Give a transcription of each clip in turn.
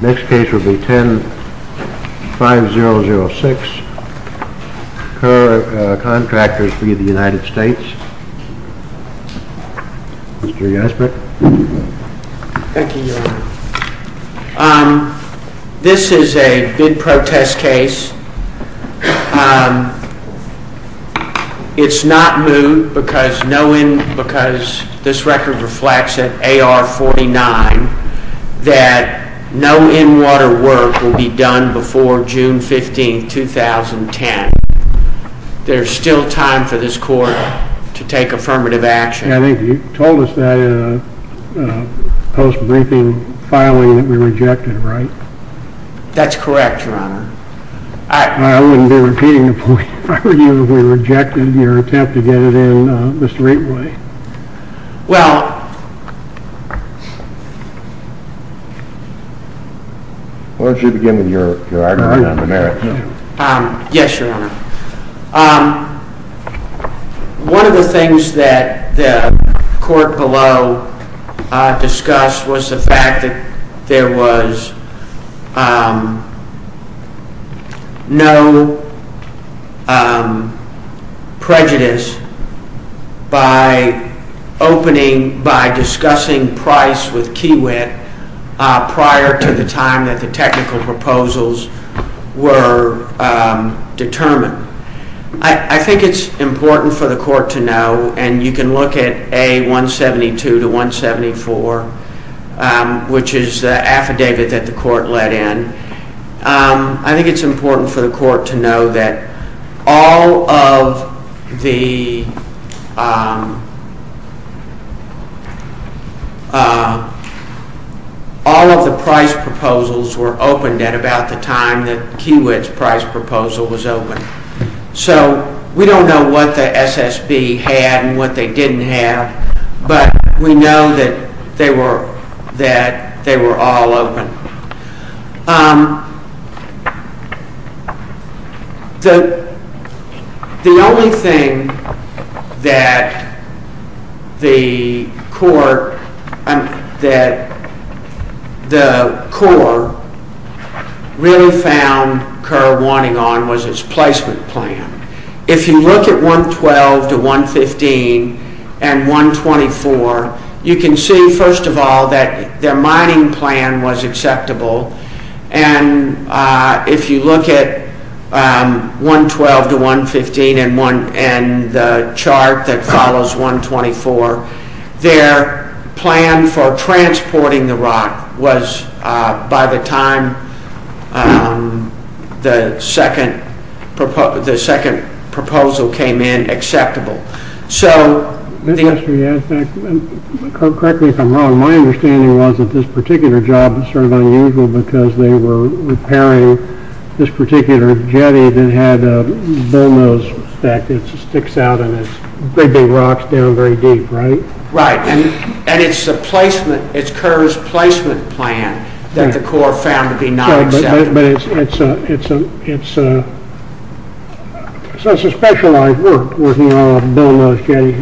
Mr. Yasper. Thank you, Your Honor. This is a bid protest case. It's not moved because no in-water work will be done before June 15, 2010. There's still time for this Court to take affirmative action. I think you told us that in a post-briefing filing that we rejected, right? That's correct, Your Honor. I wouldn't be repeating the point if I were Well, why don't you begin with your argument on the merits. Yes, Your Honor. One of the by discussing price with Kiewit prior to the time that the technical proposals were determined. I think it's important for the Court to know, and you can look at A172 to 174, which is the affidavit that the Court let in. I think it's important for the Court to know that all of the price proposals were opened at about the time that Kiewit's price proposal was opened. So we don't know what the SSB had and what they didn't have, but we know that they were all open. The only thing that the Court really found Kerr wanting on was placement plan. If you look at 112 to 115 and 124, you can see, first of all, that their mining plan was acceptable, and if you look at 112 to 115 and the chart that follows 124, their plan for transporting the rock was, by the time the second proposal came in, acceptable. So, Yes, Your Honor, and correct me if I'm wrong, my understanding was that this particular job was sort of unusual because they were repairing this particular jetty that had a bullnose stack that sticks out and it's big, big rocks down very deep, right? Right, and it's a placement, it's Kerr's placement plan that the Court found to be not acceptable. But it's a specialized work, working on a bullnose jetty.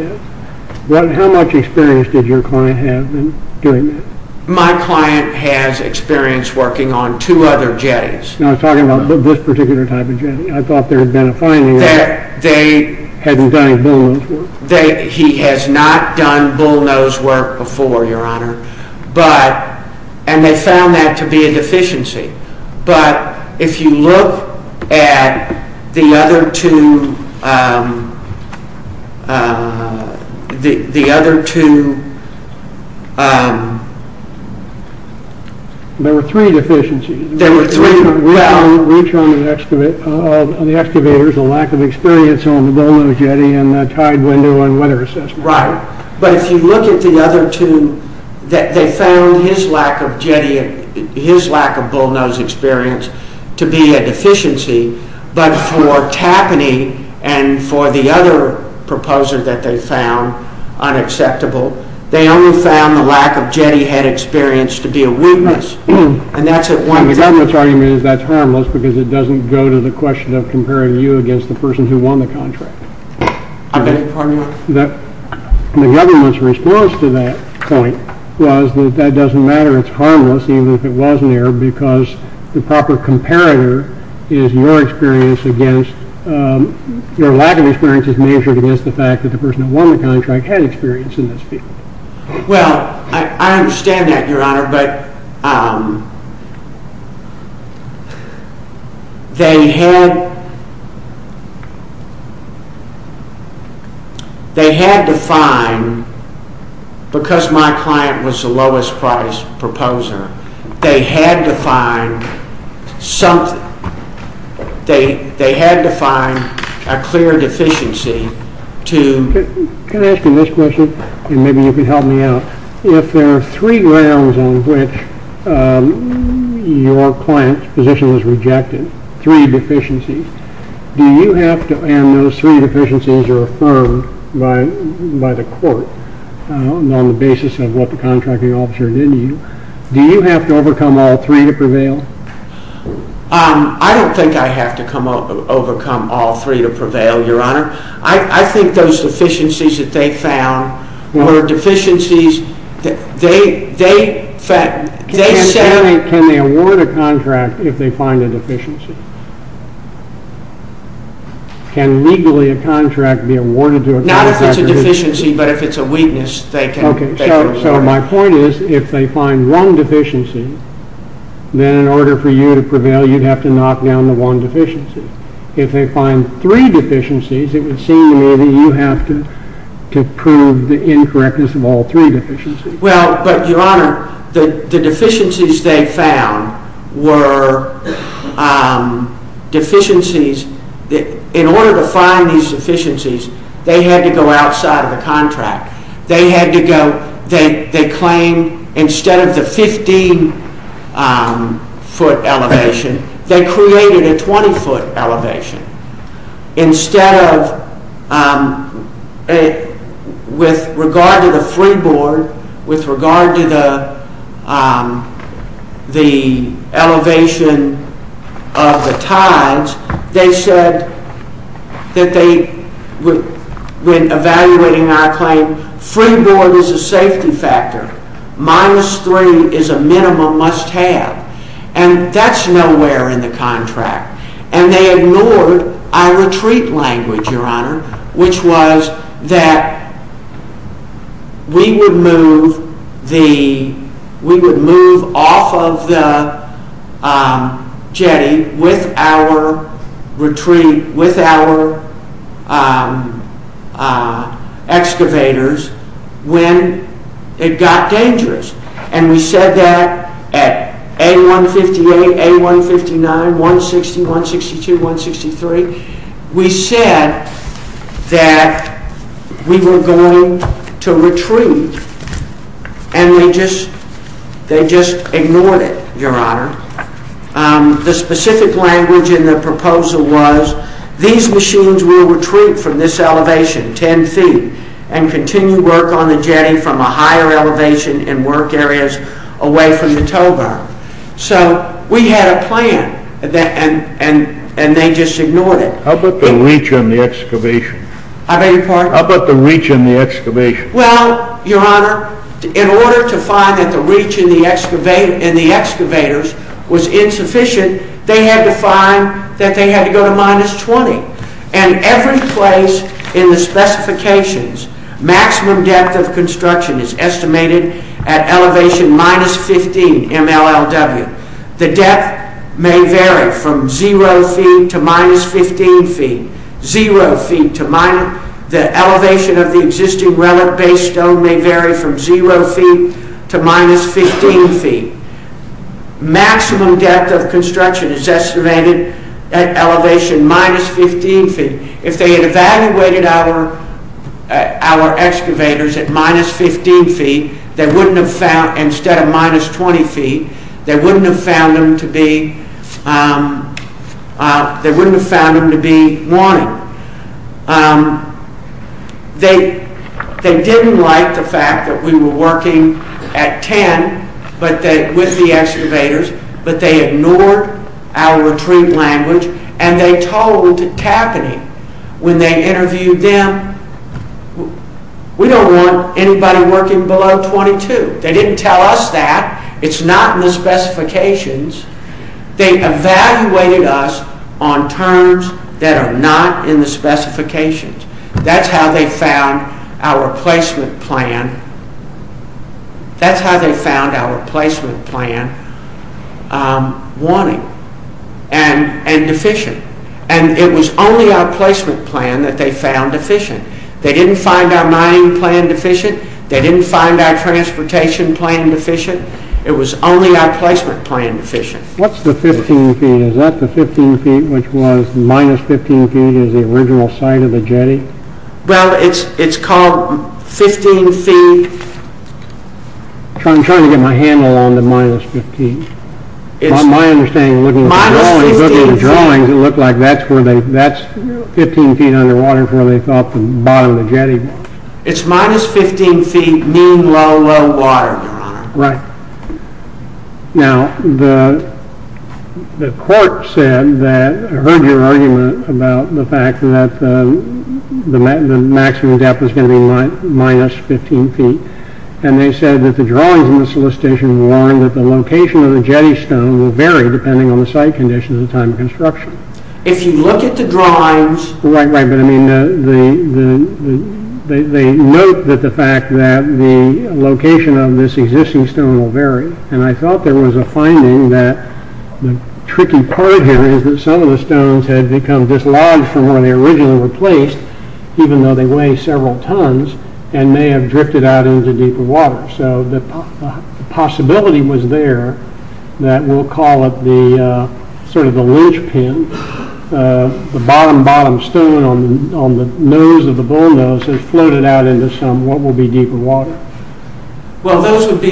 How much experience did your client have in doing that? My client has experience working on two other jetties. I'm talking about this particular type of jetty. I thought there had been a finding that hadn't done his bullnose work. He has not done bullnose work before, Your Honor, and they found that to be a deficiency. But if you look at the other two, the other two, There were three deficiencies. There were three, well, Reach on the excavators, a lack of experience on the bullnose jetty, and a tied window on weather assessment. Right, but if you look at the other two, they found his lack of jetty, his lack of bullnose experience to be a deficiency. But for Tappany and for the other proposal that they found unacceptable, they only found the lack of jetty head experience to be a weakness. The government's argument is that's harmless because it doesn't go to the question of comparing you against the person who won the contract. The government's response to that point was that that doesn't matter. It's harmless even if it wasn't there because the proper comparator is your experience against, your lack of experience is measured against the fact that the person who won the contract had experience in this field. Well, I understand that, Your Honor, but they had to find, because my client was the lowest priced proposer, they had to find something, they had to find a clear deficiency to Can I ask you this question and maybe you can help me out? If there are three grounds on which your client's position was rejected, three deficiencies, do you have to, and those three deficiencies are affirmed by the court on the basis of what the contracting officer did to you, do you have to overcome all three to prevail? I don't think I have to overcome all three to prevail, Your Honor. I think those deficiencies that they found were deficiencies that they said Can they award a contract if they find a deficiency? Can legally a contract be awarded to a contractor? Not if it's a deficiency, but if it's a weakness, they can. Okay, so my point is if they find one deficiency, then in order for you to prevail, you'd have to knock down the one deficiency. If they find three deficiencies, it would seem to me that you have to prove the incorrectness of all three deficiencies. Well, but Your Honor, the deficiencies they found were deficiencies that in order to find these deficiencies, they had to go outside of the contract. They had to go, they claimed instead of the 15-foot elevation, they created a 20-foot elevation. Instead of, with regard to the free board, with regard to the elevation of the tithes, they said that they, when evaluating our claim, free board is a safety factor. Minus three is a minimum must have. And that's nowhere in the contract. And they ignored our retreat language, Your Honor, which was that we would move off of the jetty with our retreat, with our excavators when it got dangerous. And we said that at A-158, A-159, 160, 162, 163. We said that we were going to retreat, and they just ignored it, Your Honor. The specific language in the proposal was these machines will retreat from this elevation, 10 feet, and continue work on the jetty from a higher elevation in work areas away from the tow bar. So we had a plan, and they just ignored it. How about the reach on the excavation? I beg your pardon? How about the reach on the excavation? Well, Your Honor, in order to find that the reach in the excavators was insufficient, they had to find that they had to go to minus 20. And every place in the specifications, maximum depth of construction is estimated at elevation minus 15 MLLW. The depth may vary from 0 feet to minus 15 feet. The elevation of the existing relic-based stone may vary from 0 feet to minus 15 feet. Maximum depth of construction is estimated at elevation minus 15 feet. If they had evaluated our excavators at minus 15 feet instead of minus 20 feet, they wouldn't have found them to be wanting. They didn't like the fact that we were working at 10 with the excavators, but they ignored our retreat language, and they told Tapani when they interviewed them, we don't want anybody working below 22. They didn't tell us that. It's not in the specifications. They evaluated us on terms that are not in the specifications. That's how they found our placement plan wanting and deficient. And it was only our placement plan that they found deficient. They didn't find our mining plan deficient. They didn't find our transportation plan deficient. It was only our placement plan deficient. What's the 15 feet? Is that the 15 feet, which was minus 15 feet, is the original site of the jetty? Well, it's called 15 feet. I'm trying to get my handle on the minus 15. From my understanding, looking at the drawings, it looked like that's 15 feet underwater is where they thought the bottom of the jetty was. It's minus 15 feet mean low, low water, Your Honor. Right. Now, the court said that, heard your argument about the fact that the maximum depth was going to be minus 15 feet, and they said that the drawings in the solicitation warned that the location of the jetty stone will vary depending on the site conditions and time of construction. If you look at the drawings... Right, right, but I mean, they note that the fact that the location of this existing stone will vary. And I thought there was a finding that the tricky part here is that some of the stones had become dislodged from where they originally were placed, even though they weigh several tons and may have drifted out into deeper water. So the possibility was there that we'll call it the sort of the linchpin, the bottom, bottom stone on the nose of the bullnose has floated out into what will be deeper water. Well, those would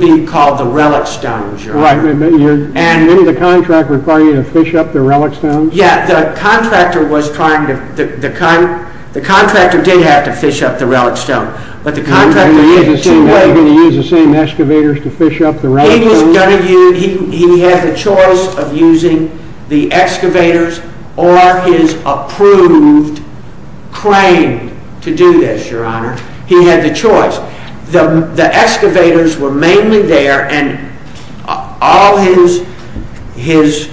be called the relic stones, Your Honor. Right. Didn't the contractor require you to fish up the relic stones? Yeah, the contractor did have to fish up the relic stone, but the contractor did it anyway. He was going to use the same excavators to fish up the relic stones? He had the choice of using the excavators or his approved crane to do this, Your Honor. He had the choice. The excavators were mainly there, and all his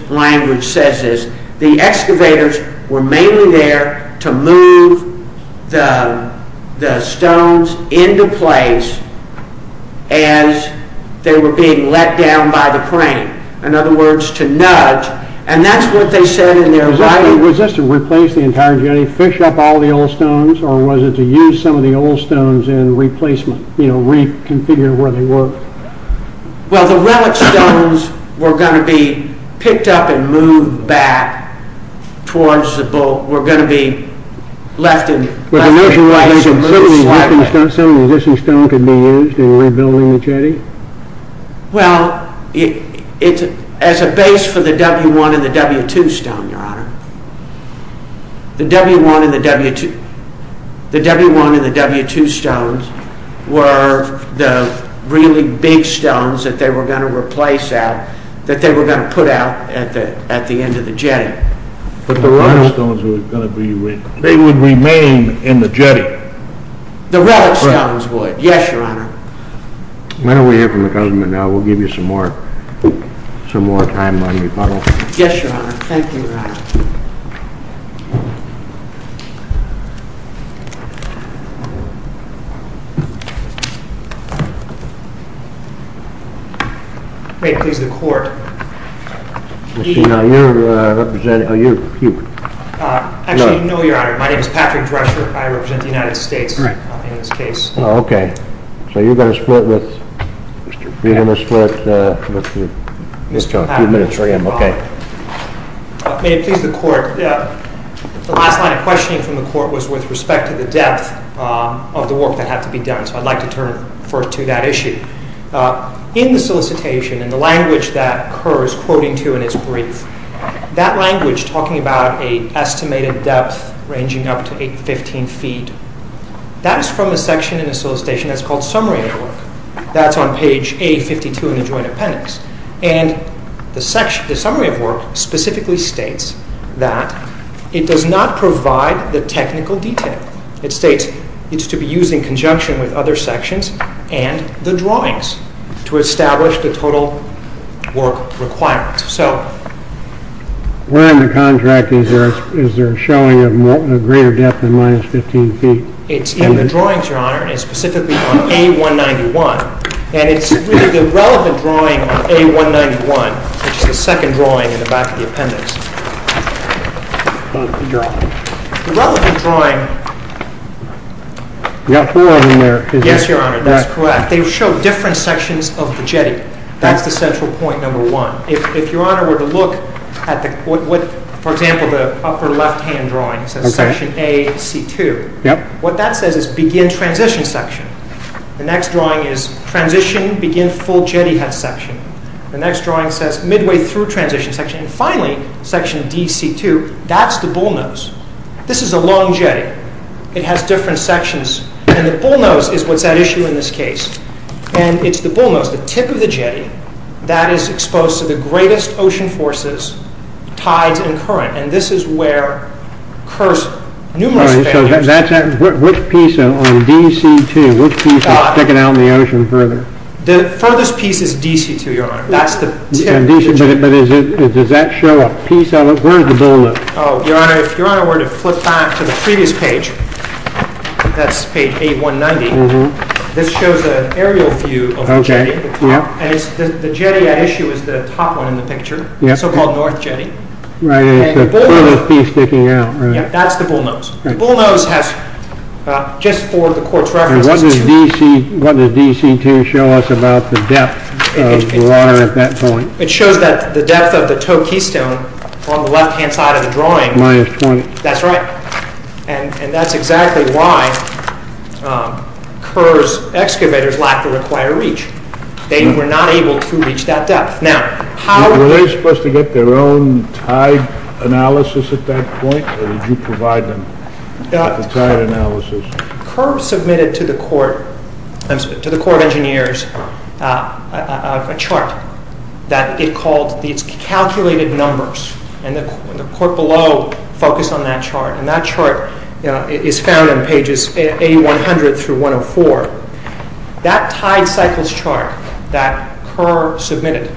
language says is the excavators were mainly there to move the stones into place as they were being let down by the crane. In other words, to nudge, and that's what they said in their writing. Was this to replace the entire journey, fish up all the old stones, or was it to use some of the old stones in replacement, you know, reconfigure where they were? Well, the relic stones were going to be picked up and moved back towards the bull. They were going to be left in place and moved slightly. Was there a reason that some of the existing stone could be used in rebuilding the jetty? Well, as a base for the W1 and the W2 stone, Your Honor, the W1 and the W2 stones were the really big stones that they were going to replace out, that they were going to put out at the end of the jetty. But the relic stones would remain in the jetty? The relic stones would, yes, Your Honor. Why don't we hear from the government now? We'll give you some more time on your part. Yes, Your Honor. Thank you, Your Honor. Okay, please, the court. Now, you represent, oh, you, you. Actually, no, Your Honor. My name is Patrick Drescher. I represent the United States in this case. Okay, so you're going to split with, you're going to split with Mr. Patrick. May it please the court, the last line of questioning from the court was with respect to the depth of the work that had to be done, so I'd like to turn first to that issue. In the solicitation, in the language that occurs, quoting to in its brief, that language talking about an estimated depth ranging up to 815 feet, that is from a section in the solicitation that's called Summary of Work. That's on page A52 in the Joint Appendix. And the Summary of Work specifically states that it does not provide the technical detail. It states it's to be used in conjunction with other sections and the drawings to establish the total work requirements, so. Where in the contract is there a showing of greater depth than minus 15 feet? It's in the drawings, Your Honor, and it's specifically on A191. And it's really the relevant drawing on A191, which is the second drawing in the back of the appendix. What's the drawing? The relevant drawing… You've got four of them there. Yes, Your Honor, that's correct. They show different sections of the jetty. That's the central point number one. If Your Honor were to look at, for example, the upper left-hand drawing, it says Section AC2. What that says is begin transition section. The next drawing is transition, begin full jetty head section. The next drawing says midway through transition section. Finally, Section DC2, that's the bullnose. This is a long jetty. It has different sections, and the bullnose is what's at issue in this case. And it's the bullnose, the tip of the jetty, that is exposed to the greatest ocean forces, tides, and current. And this is where… Which piece on DC2, which piece is sticking out in the ocean further? The furthest piece is DC2, Your Honor. But does that show a piece on it? Where is the bullnose? Oh, Your Honor, if Your Honor were to flip back to the previous page, that's page 8190, this shows an aerial view of the jetty. And the jetty at issue is the top one in the picture, the so-called north jetty. Right, and it's the furthest piece sticking out, right? That's the bullnose. The bullnose has, just for the Court's reference… What does DC2 show us about the depth of the water at that point? It shows that the depth of the tow keystone on the left-hand side of the drawing… Minus 20. That's right. And that's exactly why Kerr's excavators lacked the required reach. They were not able to reach that depth. Now, how… Were they supposed to get their own tide analysis at that point, or did you provide them the tide analysis? Kerr submitted to the Court of Engineers a chart that it called… It's calculated numbers, and the court below focused on that chart, and that chart is found on pages A100 through 104. That tide cycles chart that Kerr submitted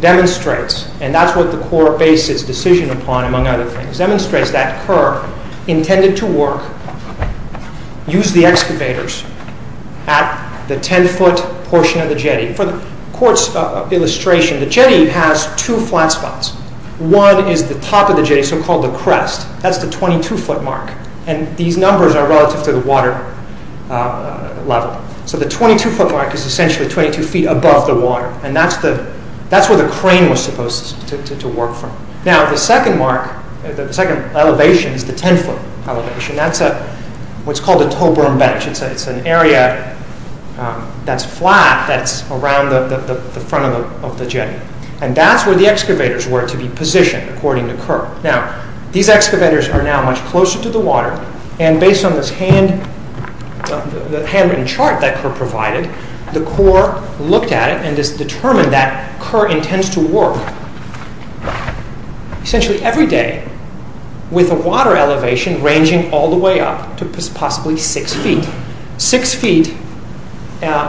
demonstrates, and that's what the Court based its decision upon, among other things, demonstrates that Kerr intended to work, use the excavators at the 10-foot portion of the jetty. For the Court's illustration, the jetty has two flat spots. One is the top of the jetty, so-called the crest. That's the 22-foot mark, and these numbers are relative to the water level. So the 22-foot mark is essentially 22 feet above the water, and that's where the crane was supposed to work from. Now, the second mark, the second elevation is the 10-foot elevation. That's what's called a tow berm bench. It's an area that's flat that's around the front of the jetty, and that's where the excavators were to be positioned, according to Kerr. Now, these excavators are now much closer to the water, and based on this handwritten chart that Kerr provided, the Corps looked at it and has determined that Kerr intends to work essentially every day with a water elevation ranging all the way up to possibly 6 feet. Six feet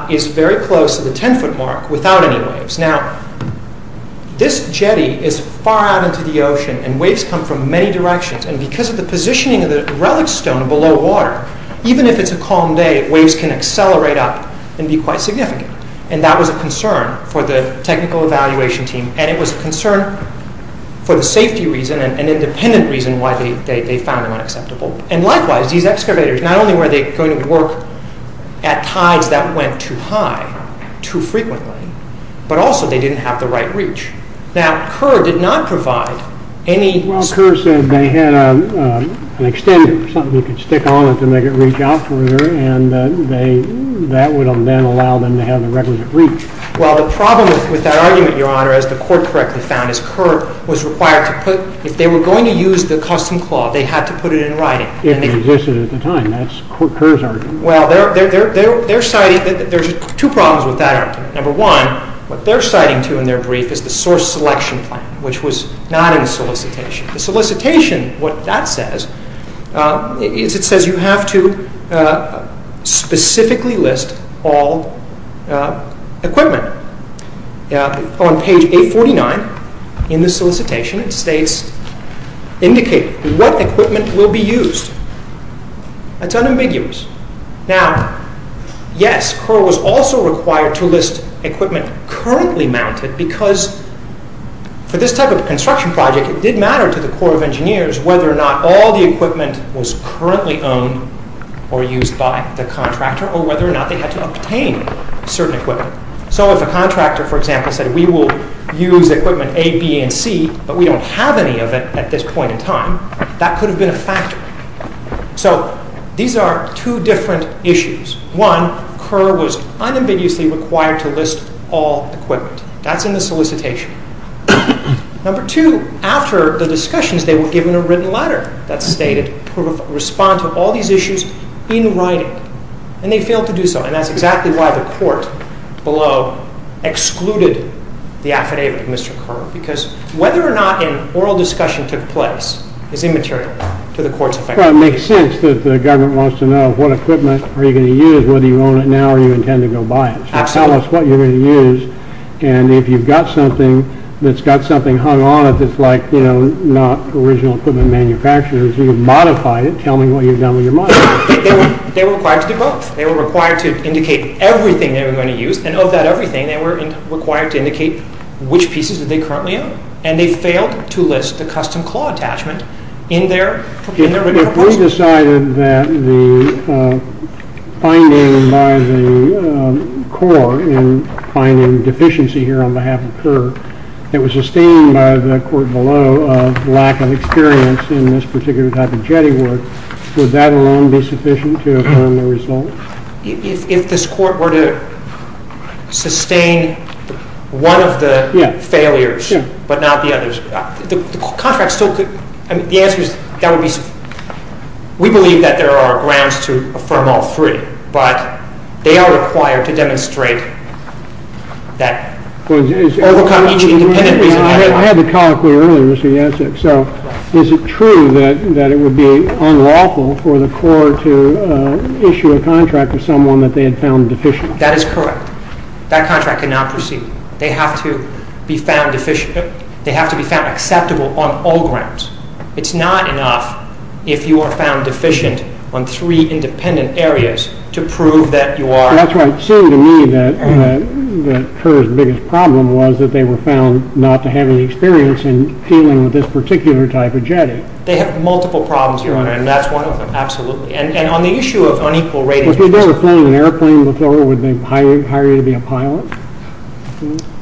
is very close to the 10-foot mark without any waves. Now, this jetty is far out into the ocean, and waves come from many directions, and because of the positioning of the relic stone below water, even if it's a calm day, waves can accelerate up and be quite significant, and that was a concern for the technical evaluation team, and it was a concern for the safety reason and independent reason why they found them unacceptable. And likewise, these excavators, not only were they going to work at tides that went too high too frequently, but also they didn't have the right reach. Now, Kerr did not provide any... And that would then allow them to have the requisite reach. Well, the problem with that argument, Your Honor, as the Court correctly found, is Kerr was required to put... If they were going to use the custom claw, they had to put it in writing. It existed at the time. That's Kerr's argument. Well, there's two problems with that argument. Number one, what they're citing to in their brief is the source selection plan, which was not in the solicitation. The solicitation, what that says is it says you have to specifically list all equipment. On page 849 in the solicitation, it states, indicate what equipment will be used. That's unambiguous. Now, yes, Kerr was also required to list equipment currently mounted, because for this type of construction project, it did matter to the Corps of Engineers whether or not all the equipment was currently owned or used by the contractor, or whether or not they had to obtain certain equipment. So if a contractor, for example, said we will use equipment A, B, and C, but we don't have any of it at this point in time, that could have been a factor. So these are two different issues. One, Kerr was unambiguously required to list all equipment. That's in the solicitation. Number two, after the discussions, they were given a written letter that stated to respond to all these issues in writing, and they failed to do so, and that's exactly why the court below excluded the affidavit of Mr. Kerr, because whether or not an oral discussion took place is immaterial to the court's effect. Well, it makes sense that the government wants to know what equipment are you going to use, whether you own it now or you intend to go buy it. Tell us what you're going to use, and if you've got something that's got something hung on it that's like, you know, not original equipment manufacturers, you've modified it. Tell me what you've done with your money. They were required to do both. They were required to indicate everything they were going to use, and of that everything, they were required to indicate which pieces did they currently own, and they failed to list the custom claw attachment in their proposal. If the court decided that the finding by the court in finding deficiency here on behalf of Kerr, that was sustained by the court below of lack of experience in this particular type of jetty work, would that alone be sufficient to affirm the result? If this court were to sustain one of the failures but not the others, the contract still could. The answer is, we believe that there are grounds to affirm all three, but they are required to demonstrate that, overcome each independent reason. I had the colloquy earlier, Mr. Yancek. So is it true that it would be unlawful for the court to issue a contract with someone that they had found deficient? That is correct. That contract cannot proceed. They have to be found acceptable on all grounds. It is not enough if you are found deficient on three independent areas to prove that you are. That is right. It seemed to me that Kerr's biggest problem was that they were found not to have any experience in dealing with this particular type of jetty. They have multiple problems, Your Honor, and that is one of them, absolutely. And on the issue of unequal ratings… If you had ever flown an airplane before, would they hire you to be a pilot?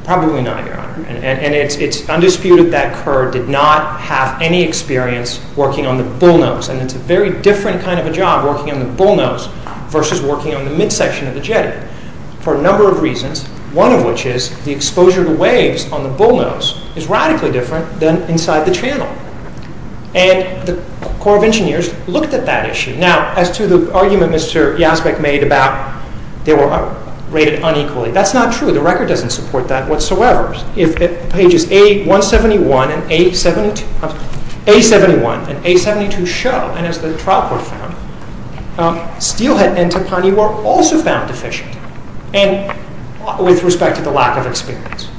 Probably not, Your Honor. And it is undisputed that Kerr did not have any experience working on the bullnose. And it is a very different kind of a job working on the bullnose versus working on the midsection of the jetty for a number of reasons, one of which is the exposure to waves on the bullnose is radically different than inside the channel. And the Corps of Engineers looked at that issue. Now, as to the argument Mr. Yazbek made about they were rated unequally, that is not true. The record does not support that whatsoever. If pages A71 and A72 show, and as the trial court found, Steelhead and Topani were also found deficient with respect to the lack of experience.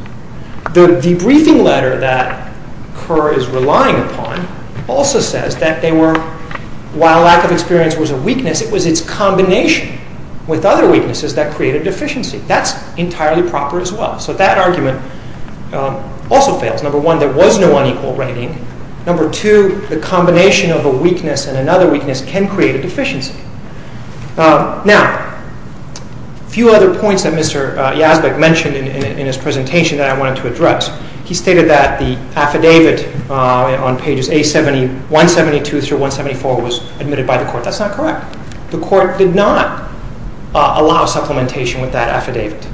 The debriefing letter that Kerr is relying upon also says that they were, while lack of experience was a weakness, it was its combination with other weaknesses that created deficiency. That is entirely proper as well. So that argument also fails. Number one, there was no unequal rating. Number two, the combination of a weakness and another weakness can create a deficiency. Now, a few other points that Mr. Yazbek mentioned in his presentation that I wanted to address. He stated that the affidavit on pages A71, 72 through 174 was admitted by the court. That is not correct. The court did not allow supplementation with that affidavit.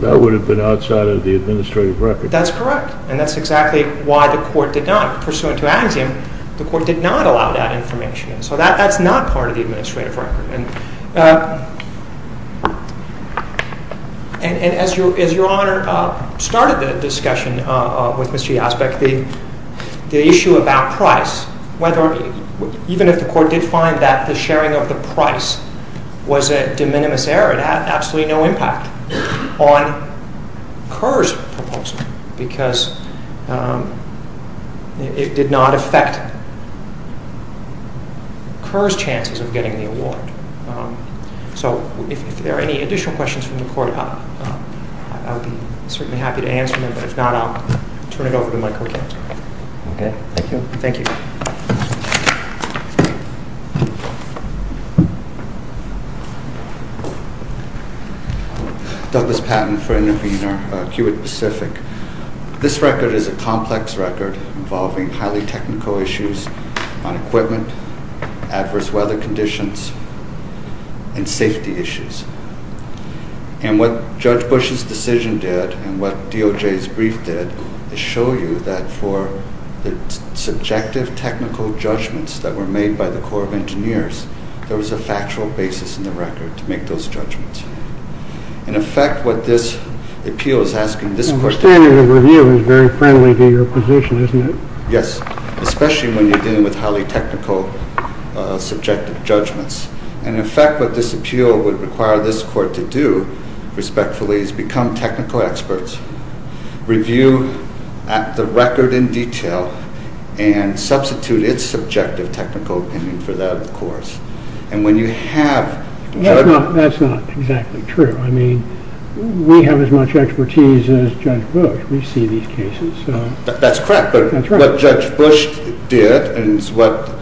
That would have been outside of the administrative record. That is correct, and that is exactly why the court did not. Pursuant to axiom, the court did not allow that information. So that is not part of the administrative record. And as Your Honor started the discussion with Mr. Yazbek, the issue about price, even if the court did find that the sharing of the price was a de minimis error, it had absolutely no impact on Kerr's proposal because it did not affect Kerr's chances of getting the award. So if there are any additional questions from the court, I would be certainly happy to answer them. But if not, I will turn it over to Michael Kemp. Okay. Thank you. Thank you. Douglas Patton for Intervenor, Kiewit Pacific. This record is a complex record involving highly technical issues on equipment, adverse weather conditions, and safety issues. And what Judge Bush's decision did and what DOJ's brief did is show you that for the subjective technical judgments that were made by the Corps of Engineers, there was a factual basis in the record to make those judgments. In effect, what this appeal is asking this court to do... The standard of review is very friendly to your position, isn't it? Yes, especially when you're dealing with highly technical subjective judgments. And in effect, what this appeal would require this court to do, respectfully, is become technical experts, review the record in detail, and substitute its subjective technical opinion for that of the Corps. And when you have... That's not exactly true. I mean, we have as much expertise as Judge Bush. We see these cases, so... That's correct. That's right. But what Judge Bush did, and it's the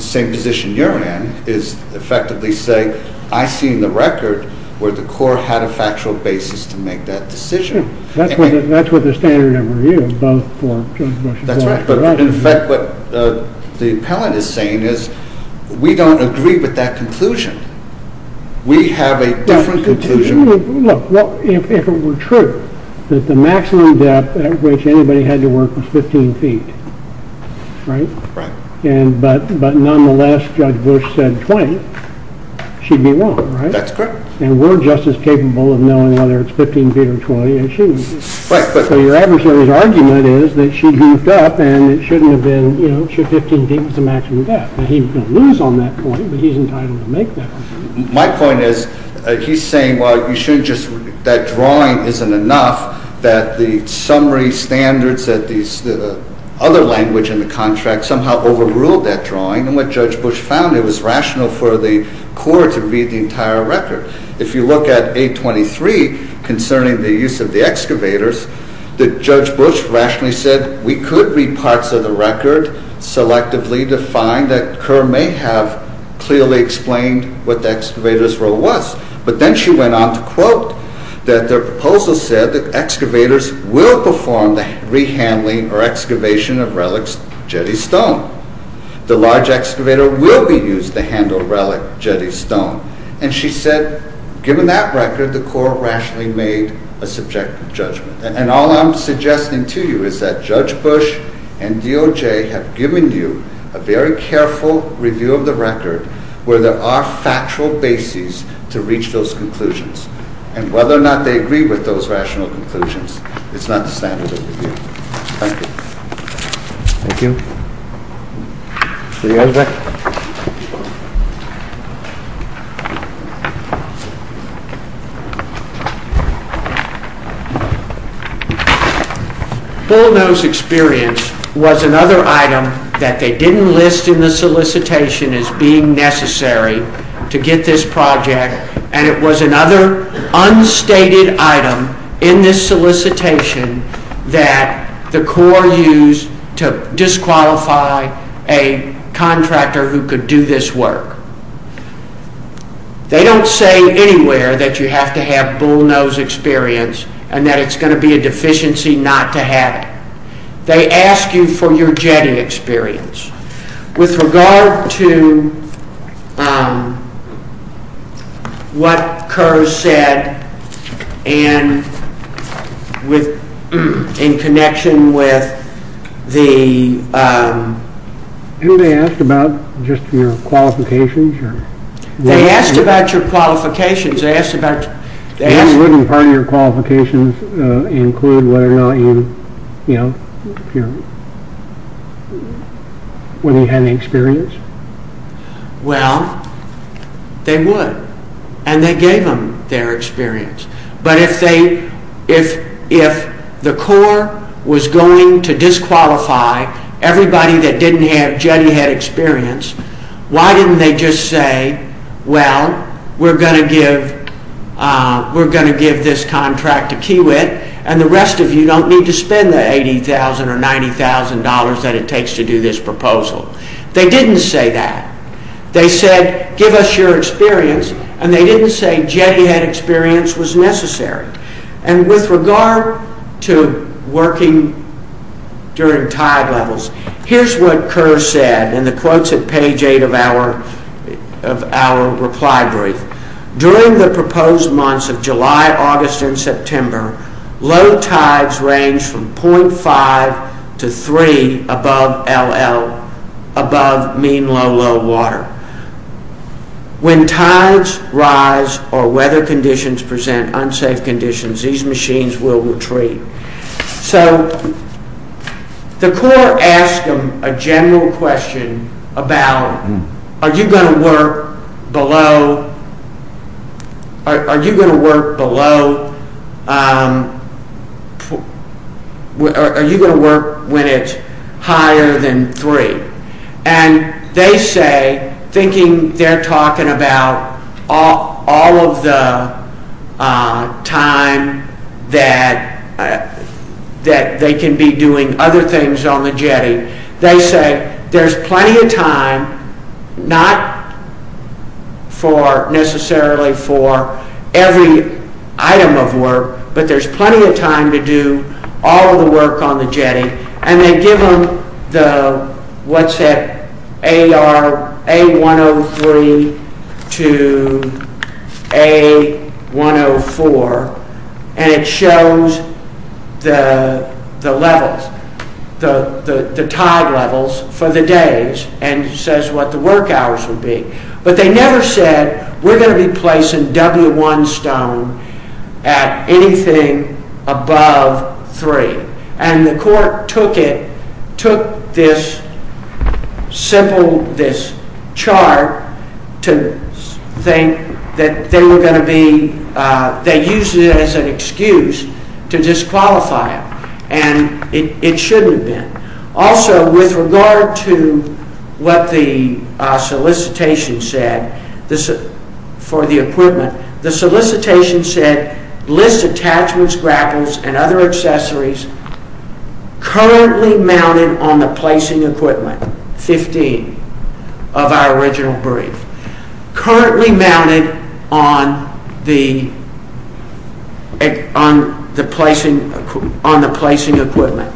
same position you're in, is effectively say, I've seen the record where the Corps had a factual basis to make that decision. That's what the standard of review is, both for Judge Bush and for us. That's right. But in effect, what the appellant is saying is we don't agree with that conclusion. We have a different conclusion. Look, if it were true that the maximum depth at which anybody had to work was 15 feet, right? Right. But nonetheless, Judge Bush said 20. She'd be wrong, right? That's correct. And we're just as capable of knowing whether it's 15 feet or 20, and she isn't. Right, but... So your adversary's argument is that she'd hoofed up and it shouldn't have been, you know, should 15 feet be the maximum depth. Now, he's going to lose on that point, but he's entitled to make that conclusion. My point is he's saying, well, you shouldn't just... That drawing isn't enough, that the summary standards, that the other language in the contract somehow overruled that drawing. And what Judge Bush found, it was rational for the court to read the entire record. If you look at 823 concerning the use of the excavators, Judge Bush rationally said we could read parts of the record selectively to find that Kerr may have clearly explained what the excavator's role was. But then she went on to quote that their proposal said that excavators will perform the re-handling or excavation of relics jetty stone. The large excavator will be used to handle relic jetty stone. And she said, given that record, the court rationally made a subjective judgment. And all I'm suggesting to you is that Judge Bush and DOJ have given you a very careful review of the record where there are factual bases to reach those conclusions. And whether or not they agree with those rational conclusions is not the standard of review. Thank you. Thank you. Are you guys back? Bullnose experience was another item that they didn't list in the solicitation as being necessary to get this project. And it was another unstated item in this solicitation that the Corps used to disqualify a contractor who could do this work. They don't say anywhere that you have to have bullnose experience and that it's going to be a deficiency not to have it. They ask you for your jetty experience. With regard to what Kerr said and in connection with the... Didn't they ask about just your qualifications? Wouldn't part of your qualifications include whether or not you had experience? Well, they would. And they gave them their experience. But if the Corps was going to disqualify everybody that didn't have jetty head experience, why didn't they just say, well, we're going to give this contract to Kiewit and the rest of you don't need to spend the $80,000 or $90,000 that it takes to do this proposal. They didn't say that. They said, give us your experience. And they didn't say jetty head experience was necessary. And with regard to working during tide levels, here's what Kerr said in the quotes at page 8 of our reply brief. During the proposed months of July, August, and September, low tides range from 0.5 to 3 above mean low, low water. When tides rise or weather conditions present unsafe conditions, these machines will retreat. So the Corps asked them a general question about are you going to work below, are you going to work below, are you going to work when it's higher than 3? And they say, thinking they're talking about all of the time that they can be doing other things on the jetty, they say there's plenty of time, not necessarily for every item of work, but there's plenty of time to do all of the work on the jetty. And they give them what's at A103 to A104, and it shows the levels, the tide levels for the days, and it says what the work hours would be. But they never said we're going to be placing W1 stone at anything above 3. And the Corps took it, took this simple, this chart, to think that they were going to be, they used it as an excuse to disqualify it, and it shouldn't have been. Also, with regard to what the solicitation said for the equipment, the solicitation said list attachments, grapples, and other accessories currently mounted on the placing equipment, 15 of our original brief, currently mounted on the placing equipment.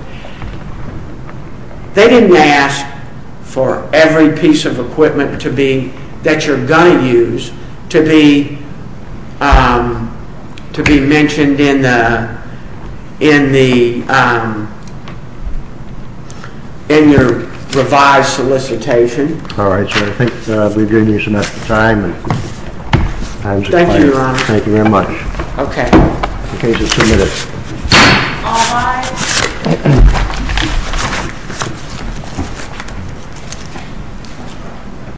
They didn't ask for every piece of equipment that you're going to use to be mentioned in your revised solicitation. All right, sir. I think we've given you enough time. Thank you, Your Honor. Thank you very much. Okay. The case is submitted. All rise.